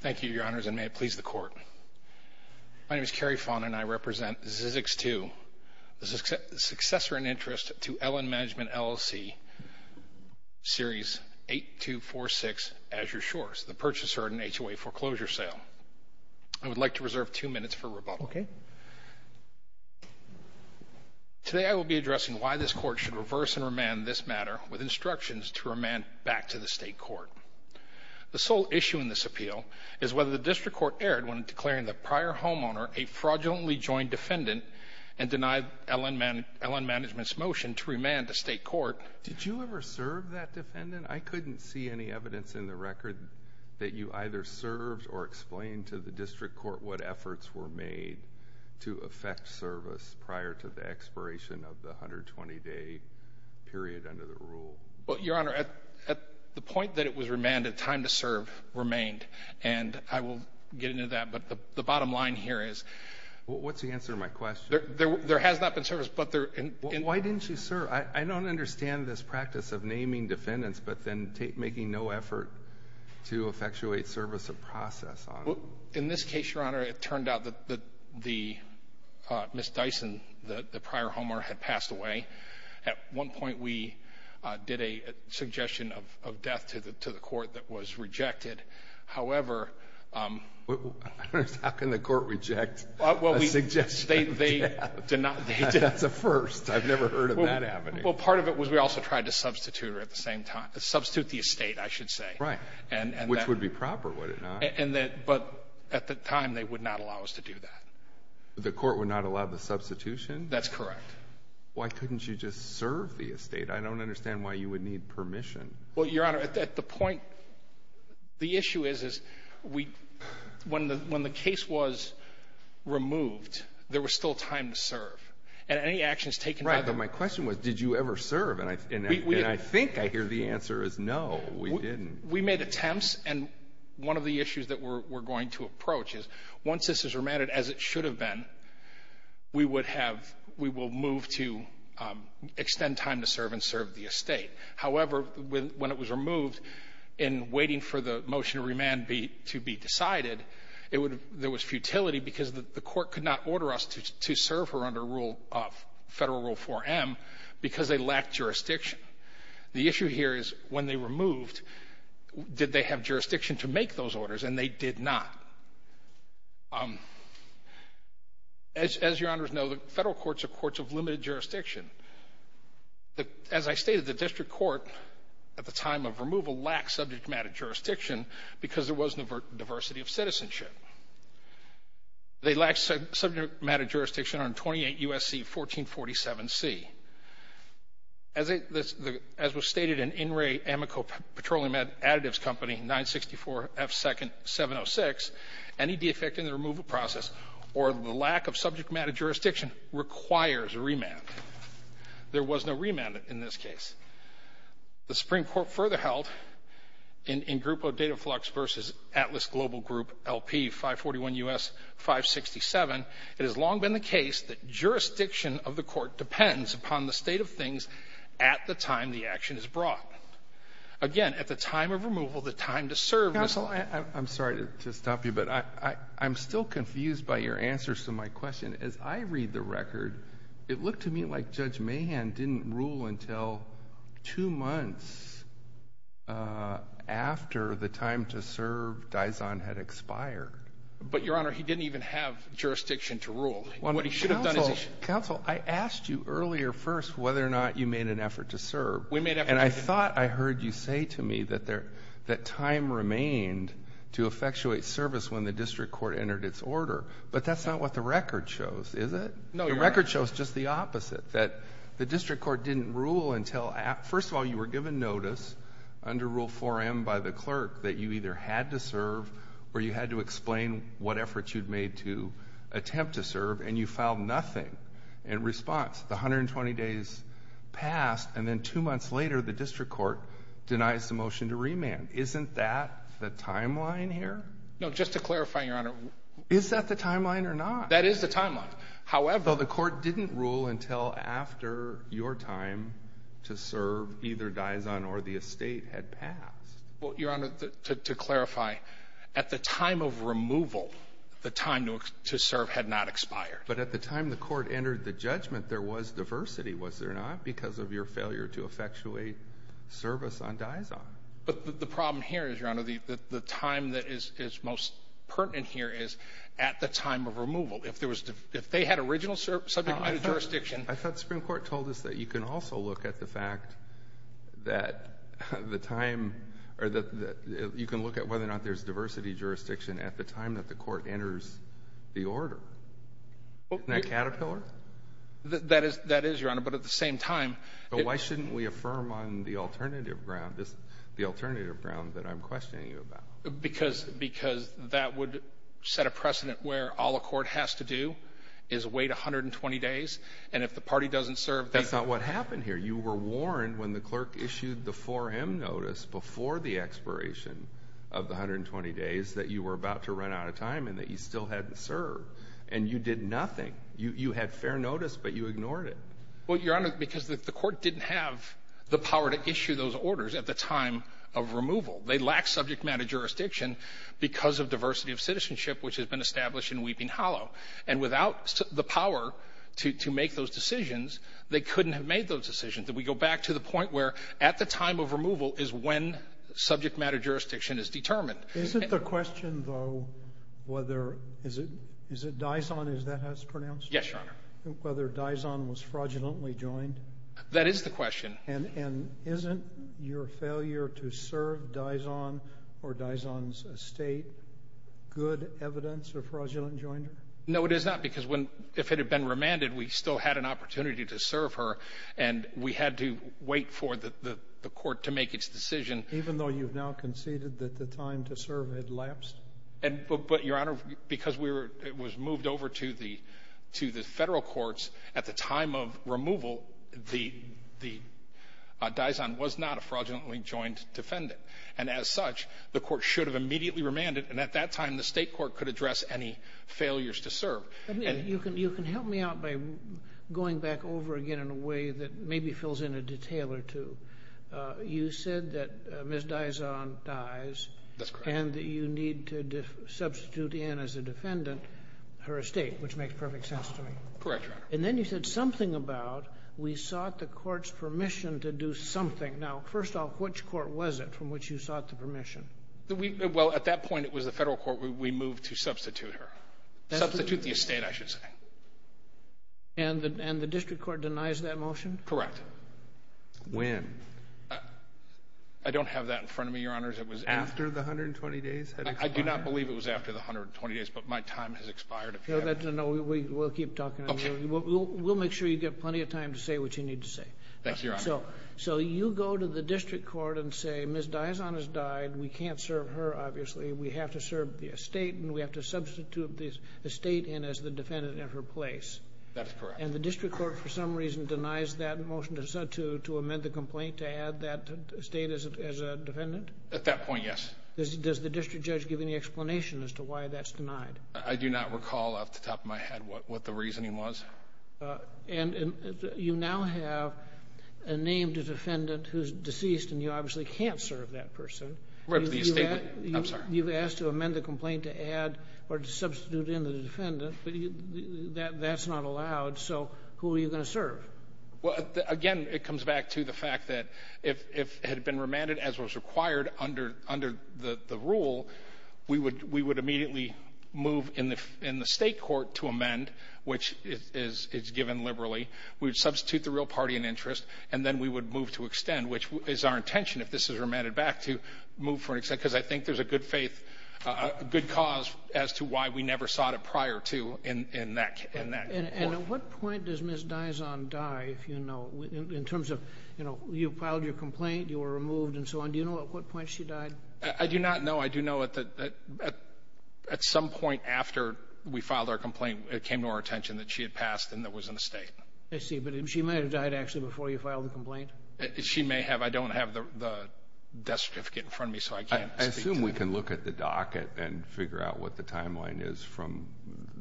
Thank you, Your Honors, and may it please the Court. My name is Kerry Fonda and I represent Zyzzx2, the successor in interest to Ellen Management LLC, Series 8246 Azure Shores, the purchaser of an HOA foreclosure sale. I would like to reserve two minutes for rebuttal. Today I will be addressing why this Court should reverse and remand this matter with instructions to remand back to the State Court. The sole issue in this appeal is whether the District Court erred when declaring the prior homeowner a fraudulently joined defendant and denied Ellen Management's motion to remand to State Court. Did you ever serve that defendant? I couldn't see any evidence in the record that you either served or explained to the District Court what efforts were made to effect service prior to the expiration of the 120-day period under the rule. Your Honor, at the point that it was remanded, time to serve remained, and I will get into that, but the bottom line here is— What's the answer to my question? There has not been service, but there— Why didn't you serve? I don't understand this practice of naming defendants but then making no effort to effectuate service or process on them. In this case, Your Honor, it turned out that Ms. Dyson, the prior homeowner, had passed away. At one point, we did a suggestion of death to the court that was rejected. However— How can the court reject a suggestion of death? That's a first. I've never heard of that happening. Well, part of it was we also tried to substitute her at the same time— substitute the estate, I should say. Right, which would be proper, would it not? But at the time, they would not allow us to do that. The court would not allow the substitution? That's correct. Why couldn't you just serve the estate? I don't understand why you would need permission. Well, Your Honor, at the point—the issue is, is we— when the case was removed, there was still time to serve. And any actions taken by the— Right, but my question was, did you ever serve? And I think I hear the answer is no, we didn't. We made attempts, and one of the issues that we're going to approach is once this is remanded as it should have been, we would have—we will move to extend time to serve and serve the estate. However, when it was removed, in waiting for the motion to remand be—to be decided, it would have—there was futility because the court could not order us to serve her under Rule—Federal Rule 4m because they lacked jurisdiction. The issue here is when they removed, did they have jurisdiction to make those orders, and they did not. As Your Honors know, the federal courts are courts of limited jurisdiction. As I stated, the district court at the time of removal lacked subject matter jurisdiction because there wasn't a diversity of citizenship. They lacked subject matter jurisdiction under 28 U.S.C. 1447C. As was stated in In Re Amico Petroleum Additives Company 964 F. Second 706, any defect in the removal process or the lack of subject matter jurisdiction requires remand. There was no remand in this case. The Supreme Court further held in Grupo Dataflux v. Atlas Global Group, L.P. 541 U.S. 567, it has long been the case that jurisdiction of the court depends upon the state of things at the time the action is brought. Again, at the time of removal, the time to serve was— Counsel, I'm sorry to stop you, but I'm still confused by your answers to my question. As I read the record, it looked to me like Judge Mahan didn't rule until two months after the time to serve Daison had expired. But, Your Honor, he didn't even have jurisdiction to rule. What he should have done is— Counsel, I asked you earlier first whether or not you made an effort to serve. And I thought I heard you say to me that time remained to effectuate service when the district court entered its order. But that's not what the record shows, is it? No, Your Honor. The record shows just the opposite, that the district court didn't rule until— first of all, you were given notice under Rule 4M by the clerk that you either had to serve or you had to explain what efforts you'd made to attempt to serve, and you filed nothing in response. The 120 days passed, and then two months later, the district court denies the motion to remand. Isn't that the timeline here? No, just to clarify, Your Honor— Is that the timeline or not? That is the timeline. However— Though the court didn't rule until after your time to serve either Daison or the estate had passed. Well, Your Honor, to clarify, at the time of removal, the time to serve had not expired. But at the time the court entered the judgment, there was diversity, was there not, because of your failure to effectuate service on Daison? But the problem here is, Your Honor, the time that is most pertinent here is at the time of removal. If there was—if they had original subject matter jurisdiction— you can look at whether or not there's diversity jurisdiction at the time that the court enters the order. Isn't that a caterpillar? That is, Your Honor, but at the same time— Why shouldn't we affirm on the alternative ground that I'm questioning you about? Because that would set a precedent where all a court has to do is wait 120 days, and if the party doesn't serve— That's not what happened here. You were warned when the clerk issued the for-him notice before the expiration of the 120 days that you were about to run out of time and that you still hadn't served, and you did nothing. You had fair notice, but you ignored it. Well, Your Honor, because the court didn't have the power to issue those orders at the time of removal. They lacked subject matter jurisdiction because of diversity of citizenship, which has been established in Weeping Hollow. And without the power to make those decisions, they couldn't have made those decisions. Did we go back to the point where at the time of removal is when subject matter jurisdiction is determined? Isn't the question, though, whether—is it Dizon? Is that how it's pronounced? Yes, Your Honor. Whether Dizon was fraudulently joined? That is the question. And isn't your failure to serve Dizon or Dizon's estate good evidence of fraudulent joinder? No, it is not, because if it had been remanded, we still had an opportunity to serve her, and we had to wait for the court to make its decision. Even though you've now conceded that the time to serve had lapsed? But, Your Honor, because it was moved over to the federal courts at the time of removal, the Dizon was not a fraudulently joined defendant. And as such, the court should have immediately remanded, and at that time the State Court could address any failures to serve. You can help me out by going back over again in a way that maybe fills in a detail or two. You said that Ms. Dizon dies. That's correct, Your Honor. And that you need to substitute in as a defendant her estate, which makes perfect sense to me. Correct, Your Honor. And then you said something about we sought the court's permission to do something. Now, first off, which court was it from which you sought the permission? Well, at that point it was the federal court. We moved to substitute her. Substitute the estate, I should say. And the district court denies that motion? Correct. When? I don't have that in front of me, Your Honors. It was after the 120 days had expired? I do not believe it was after the 120 days, but my time has expired. No, we'll keep talking. We'll make sure you get plenty of time to say what you need to say. Thank you, Your Honor. So you go to the district court and say Ms. Dizon has died. We can't serve her, obviously. We have to serve the estate, and we have to substitute the estate in as the defendant in her place. That's correct. And the district court for some reason denies that motion to amend the complaint to add that estate as a defendant? At that point, yes. Does the district judge give any explanation as to why that's denied? I do not recall off the top of my head what the reasoning was. And you now have a named defendant who's deceased, and you obviously can't serve that person. You've asked to amend the complaint to add or to substitute in the defendant, but that's not allowed. So who are you going to serve? Well, again, it comes back to the fact that if it had been remanded as was required under the rule, we would immediately move in the state court to amend, which is given liberally. We would substitute the real party in interest, and then we would move to extend, which is our intention if this is remanded back to move for an extension, because I think there's a good cause as to why we never sought it prior to in that case. And at what point does Ms. Dizon die, if you know, in terms of, you know, you filed your complaint, you were removed and so on. Do you know at what point she died? I do not know. I do know that at some point after we filed our complaint, it came to our attention that she had passed and that was in the state. I see. But she may have died actually before you filed the complaint. She may have. I don't have the death certificate in front of me, so I can't speak to that. I assume we can look at the docket and figure out what the timeline is from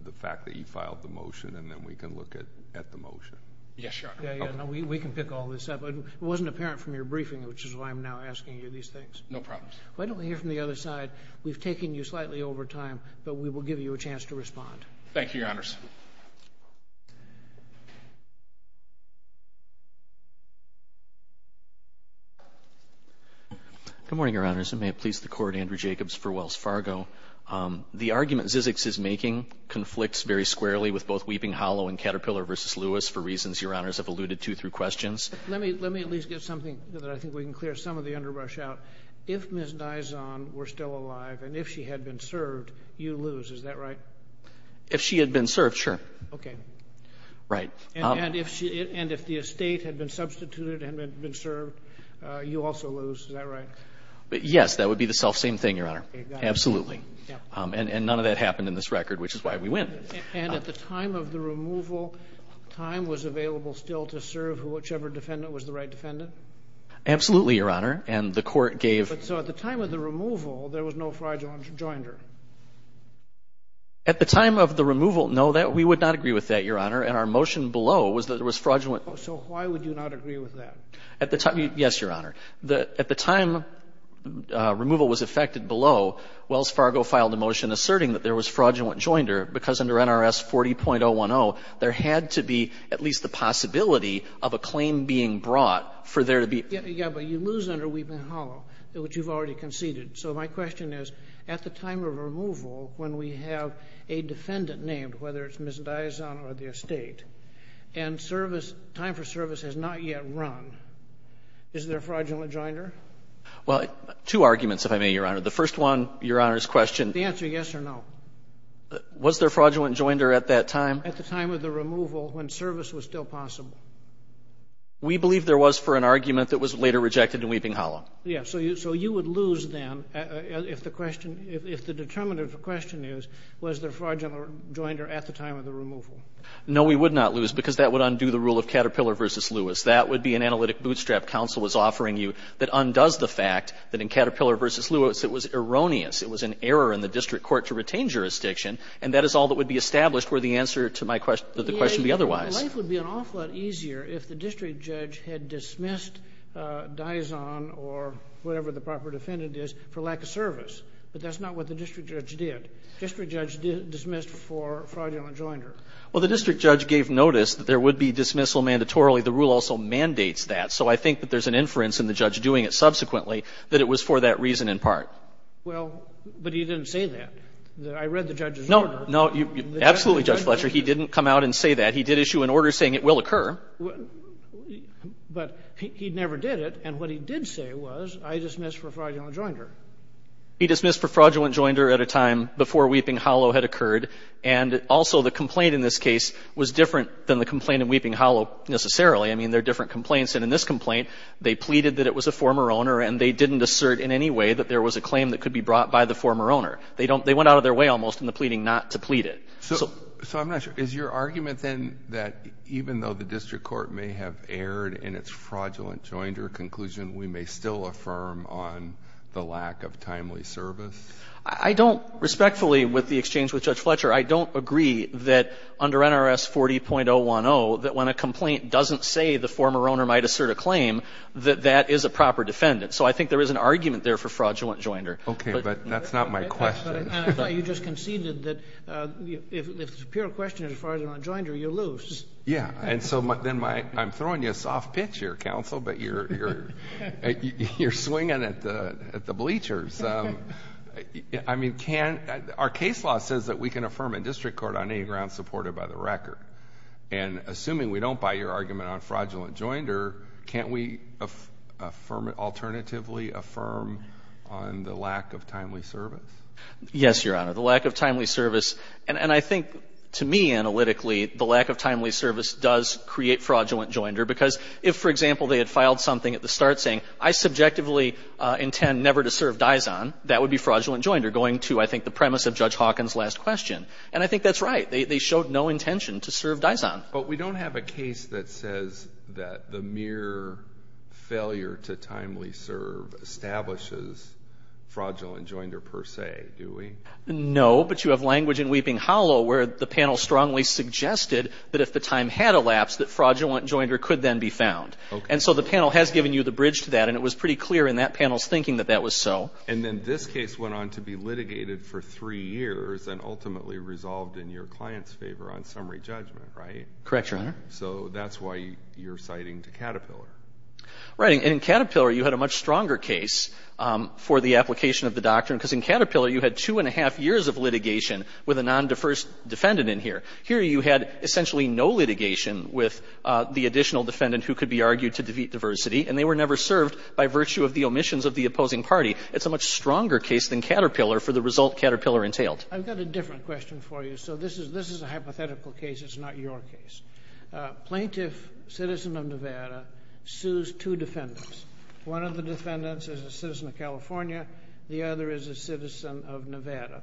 the fact that you filed the motion, and then we can look at the motion. Yes, Your Honor. Yeah, yeah, no, we can pick all this up. It wasn't apparent from your briefing, which is why I'm now asking you these things. No problem. Why don't we hear from the other side? We've taken you slightly over time, but we will give you a chance to respond. Thank you, Your Honors. Good morning, Your Honors, and may it please the Court, Andrew Jacobs for Wells Fargo. The argument Zizeks is making conflicts very squarely with both Weeping Hollow and Caterpillar v. Lewis for reasons Your Honors have alluded to through questions. Let me at least get something that I think we can clear some of the underbrush out. If Ms. Dizon were still alive and if she had been served, you lose, is that right? If she had been served, sure. Okay. Right. And if the estate had been substituted and had been served, you also lose, is that right? Yes, that would be the selfsame thing, Your Honor. Absolutely. And none of that happened in this record, which is why we win. And at the time of the removal, time was available still to serve whichever defendant was the right defendant? Absolutely, Your Honor. And the Court gave ---- So at the time of the removal, there was no fraudulent joinder? At the time of the removal, no, we would not agree with that, Your Honor. And our motion below was that there was fraudulent ---- So why would you not agree with that? Yes, Your Honor. At the time removal was effected below, Wells Fargo filed a motion asserting that there was fraudulent joinder, because under NRS 40.010, there had to be at least the possibility of a claim being brought for there to be ---- Yes, but you lose under Weeping Hollow, which you've already conceded. So my question is, at the time of removal, when we have a defendant named, whether it's Ms. Diazon or the estate, and service, time for service has not yet run, is there a fraudulent joinder? Well, two arguments, if I may, Your Honor. The first one, Your Honor's question ---- The answer, yes or no? Was there fraudulent joinder at that time? At the time of the removal, when service was still possible. We believe there was for an argument that was later rejected in Weeping Hollow. Yes. So you would lose then, if the question ---- if the determinative question is, was there fraudulent joinder at the time of the removal? No, we would not lose, because that would undo the rule of Caterpillar v. Lewis. That would be an analytic bootstrap counsel was offering you that undoes the fact that in Caterpillar v. Lewis, it was erroneous. It was an error in the district court to retain jurisdiction, and that is all that would be established were the answer to my question, that the question be otherwise. Life would be an awful lot easier if the district judge had dismissed Diazon or whatever the proper defendant is, for lack of service. But that's not what the district judge did. The district judge dismissed for fraudulent joinder. Well, the district judge gave notice that there would be dismissal mandatorily. The rule also mandates that. So I think that there's an inference in the judge doing it subsequently that it was for that reason in part. Well, but he didn't say that. I read the judge's order. No, no. Absolutely, Judge Fletcher, he didn't come out and say that. He did issue an order saying it will occur. But he never did it. And what he did say was, I dismiss for fraudulent joinder. He dismissed for fraudulent joinder at a time before Weeping Hollow had occurred. And also the complaint in this case was different than the complaint in Weeping Hollow necessarily. I mean, they're different complaints. And in this complaint, they pleaded that it was a former owner and they didn't assert in any way that there was a claim that could be brought by the former owner. They don't they went out of their way almost in the pleading not to plead it. So I'm not sure. Is your argument then that even though the district court may have erred in its fraudulent joinder conclusion, we may still affirm on the lack of timely service? I don't respectfully with the exchange with Judge Fletcher, I don't agree that under NRS 40.010 that when a complaint doesn't say the former owner might assert a claim that that is a proper defendant. So I think there is an argument there for fraudulent joinder. Okay. But that's not my question. And I thought you just conceded that if it's a pure question of fraudulent joinder, you're loose. Yeah. And so then I'm throwing you a soft pitch here, Counsel, but you're swinging at the bleachers. I mean, can our case law says that we can affirm in district court on any grounds supported by the record? And assuming we don't buy your argument on fraudulent joinder, can't we affirm it alternatively, affirm on the lack of timely service? Yes, Your Honor. The lack of timely service, and I think to me analytically, the lack of timely service does create fraudulent joinder, because if, for example, they had filed something at the start saying, I subjectively intend never to serve Dizon, that would be fraudulent joinder, going to, I think, the premise of Judge Hawkins' last question. And I think that's right. They showed no intention to serve Dizon. But we don't have a case that says that the mere failure to timely serve establishes fraudulent joinder per se, do we? No, but you have language in Weeping Hollow where the panel strongly suggested that if the time had elapsed, that fraudulent joinder could then be found. And so the panel has given you the bridge to that, and it was pretty clear in that panel's thinking that that was so. And then this case went on to be litigated for three years and ultimately resolved in your client's favor on summary judgment, right? Correct, Your Honor. So that's why you're citing to Caterpillar. Right. And in Caterpillar, you had a much stronger case for the application of the doctrine, because in Caterpillar, you had two and a half years of litigation with a nondiverse defendant in here. Here, you had essentially no litigation with the additional defendant who could be argued to defeat diversity, and they were never served by virtue of the omissions of the opposing party. It's a much stronger case than Caterpillar for the result Caterpillar entailed. I've got a different question for you. So this is a hypothetical case. It's not your case. Plaintiff, citizen of Nevada, sues two defendants. One of the defendants is a citizen of California. The other is a citizen of Nevada.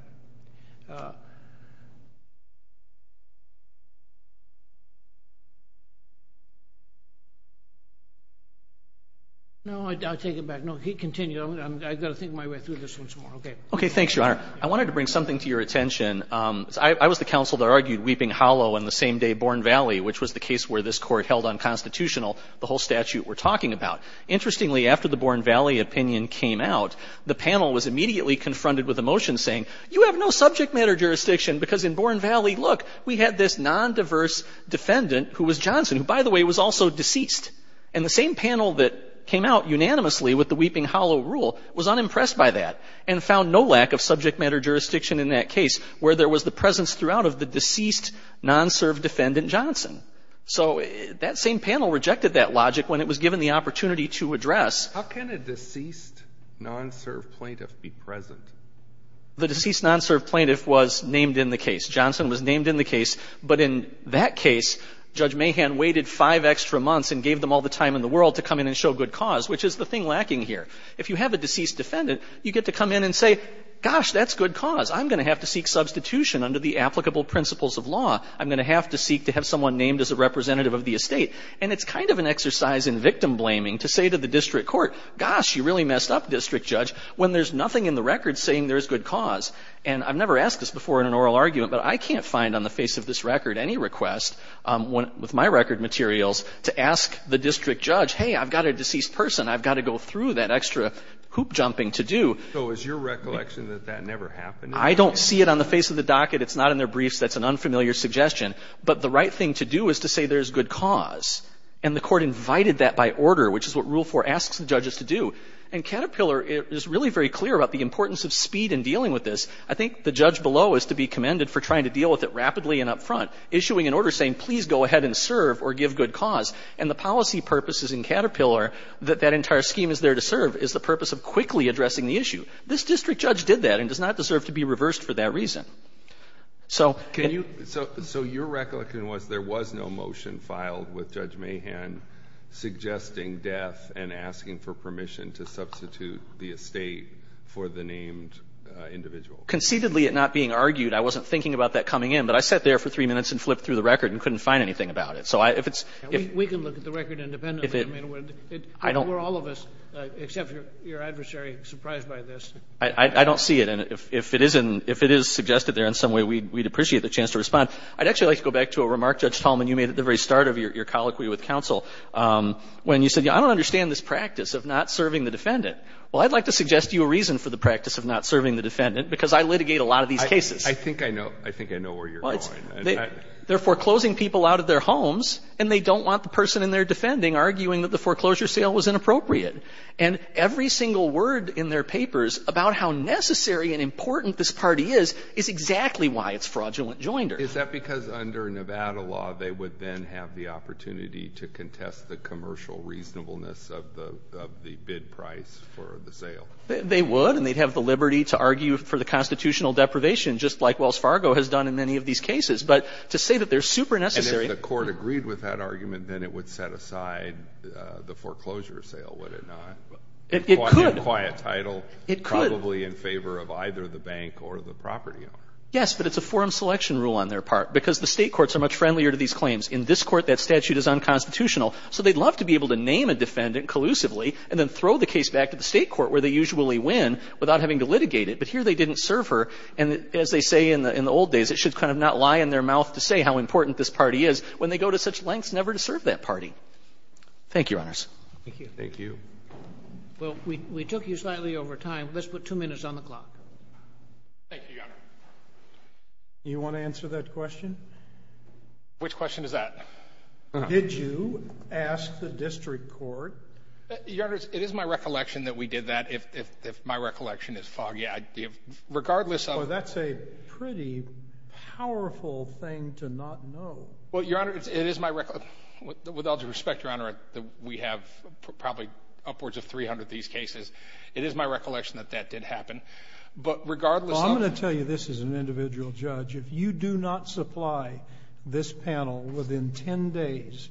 No, I'll take it back. No, he continued. I've got to think my way through this one some more. Okay. Okay. Thanks, Your Honor. I wanted to bring something to your attention. I was the counsel that argued Weeping Hollow and the same day Bourne Valley, which was the case where this Court held unconstitutional the whole statute we're talking about. Interestingly, after the Bourne Valley opinion came out, the panel was immediately confronted with a motion saying, you have no subject matter jurisdiction, because in Bourne Valley, look, we had this nondiverse defendant who was Johnson, who, by the way, was also deceased. And the same panel that came out unanimously with the Weeping Hollow rule was unimpressed by that and found no lack of subject matter jurisdiction in that case where there was the presence throughout of the deceased nonserve defendant Johnson. So that same panel rejected that logic when it was given the opportunity to address. How can a deceased nonserve plaintiff be present? The deceased nonserve plaintiff was named in the case. Johnson was named in the case. But in that case, Judge Mahan waited five extra months and gave them all the time in the world to come in and show good cause, which is the thing lacking here. If you have a deceased defendant, you get to come in and say, gosh, that's good cause. I'm going to have to seek substitution under the applicable principles of law. I'm going to have to seek to have someone named as a representative of the estate. And it's kind of an exercise in victim blaming to say to the district court, gosh, you really messed up, district judge, when there's nothing in the record saying there's good cause. And I've never asked this before in an oral argument, but I can't find on the face of this record any request with my record materials to ask the district judge, hey, I've got a deceased person. I've got to go through that extra hoop jumping to do. So is your recollection that that never happened? I don't see it on the face of the docket. It's not in their briefs. That's an unfamiliar suggestion. But the right thing to do is to say there's good cause. And the Court invited that by order, which is what Rule 4 asks the judges to do. And Caterpillar is really very clear about the importance of speed in dealing with I think the judge below is to be commended for trying to deal with it rapidly and up front, issuing an order saying please go ahead and serve or give good cause. And the policy purposes in Caterpillar that that entire scheme is there to serve is the purpose of quickly addressing the issue. This district judge did that and does not deserve to be reversed for that reason. So can you So your recollection was there was no motion filed with Judge Mahan suggesting death and asking for permission to substitute the estate for the named individual. Conceitedly it not being argued, I wasn't thinking about that coming in, but I sat there for three minutes and flipped through the record and couldn't find anything about it. So if it's We can look at the record independently. I don't We're all of us, except your adversary, surprised by this. I don't see it. And if it is suggested there in some way, we'd appreciate the chance to respond. I'd actually like to go back to a remark, Judge Tallman, you made at the very start of your colloquy with counsel. When you said, I don't understand this practice of not serving the defendant. Well, I'd like to suggest you a reason for the practice of not serving the defendant because I litigate a lot of these cases. I think I know where you're going. They're foreclosing people out of their homes and they don't want the person in their defending arguing that the foreclosure sale was inappropriate. And every single word in their papers about how necessary and important this party is is exactly why it's fraudulent joinder. Is that because under Nevada law, they would then have the opportunity to contest the commercial reasonableness of the bid price for the sale? They would. And they'd have the liberty to argue for the constitutional deprivation, just like Wells Fargo has done in many of these cases. But to say that they're super necessary And if the court agreed with that argument, then it would set aside the foreclosure sale, would it not? It could. In quiet title. It could. Probably in favor of either the bank or the property owner. Yes, but it's a forum selection rule on their part because the state courts are much friendlier to these claims. In this court, that statute is unconstitutional. So they'd love to be able to name a defendant collusively and then throw the case back to the state court where they usually win without having to litigate it. But here they didn't serve her. And as they say in the old days, it should kind of not lie in their mouth to say how important this party is when they go to such lengths never to serve that party. Thank you, Your Honors. Thank you. Thank you. Well, we took you slightly over time. Let's put two minutes on the clock. Thank you, Your Honor. Do you want to answer that question? Which question is that? Did you ask the district court? Your Honor, it is my recollection that we did that. If my recollection is foggy, regardless of— Well, that's a pretty powerful thing to not know. Well, Your Honor, it is my—with all due respect, Your Honor, we have probably upwards of 300 of these cases. It is my recollection that that did happen. But regardless of— Well, I'm going to tell you this as an individual judge. If you do not supply this panel within 10 days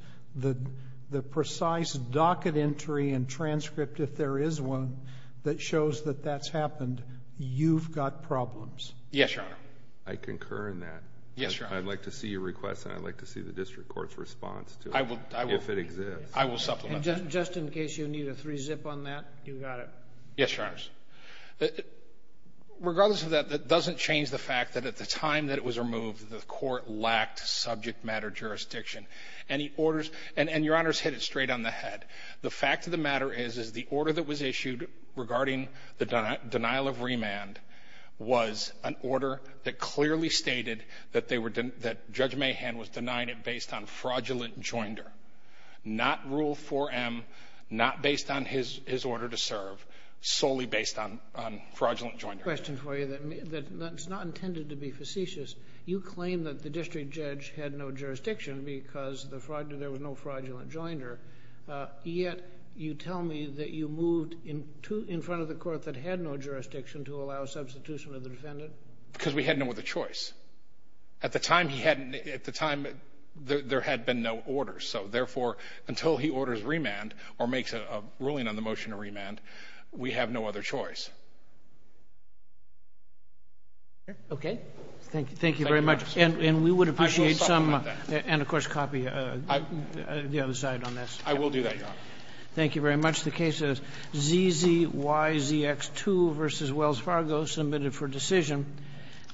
the precise docket entry and transcript, if there is one, that shows that that's happened, you've got problems. Yes, Your Honor. I concur in that. Yes, Your Honor. I'd like to see your request, and I'd like to see the district court's response to it. I will— If it exists. I will supplement that. Just in case you need a three-zip on that, you got it. Yes, Your Honors. Regardless of that, that doesn't change the fact that at the time that it was removed, the court lacked subject matter jurisdiction. And he orders—and Your Honors hit it straight on the head. The fact of the matter is, is the order that was issued regarding the denial of remand was an order that clearly stated that they were—that Judge Mahan was denying it based on fraudulent joinder, not Rule 4M, not based on his order to serve, solely based on fraudulent joinder. A question for you that's not intended to be facetious. You claim that the district judge had no jurisdiction because there was no fraudulent joinder, yet you tell me that you moved in front of the court that had no jurisdiction to allow substitution of the defendant? Because we had no other choice. At the time, he hadn't—at the time, there had been no orders. So, therefore, until he orders remand or makes a ruling on the motion to remand, we have no other choice. Okay. Thank you. Thank you very much. And we would appreciate some— I will supplement that. And, of course, copy the other side on this. I will do that, Your Honor. Thank you very much. The case is ZZYZX2 v. Wells Fargo, submitted for decision.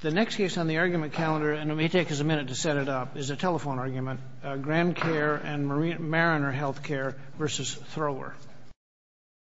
The next case on the argument calendar, and it may take us a minute to set it up, is a telephone argument, Grand Care v. Mariner Healthcare v. Thrower.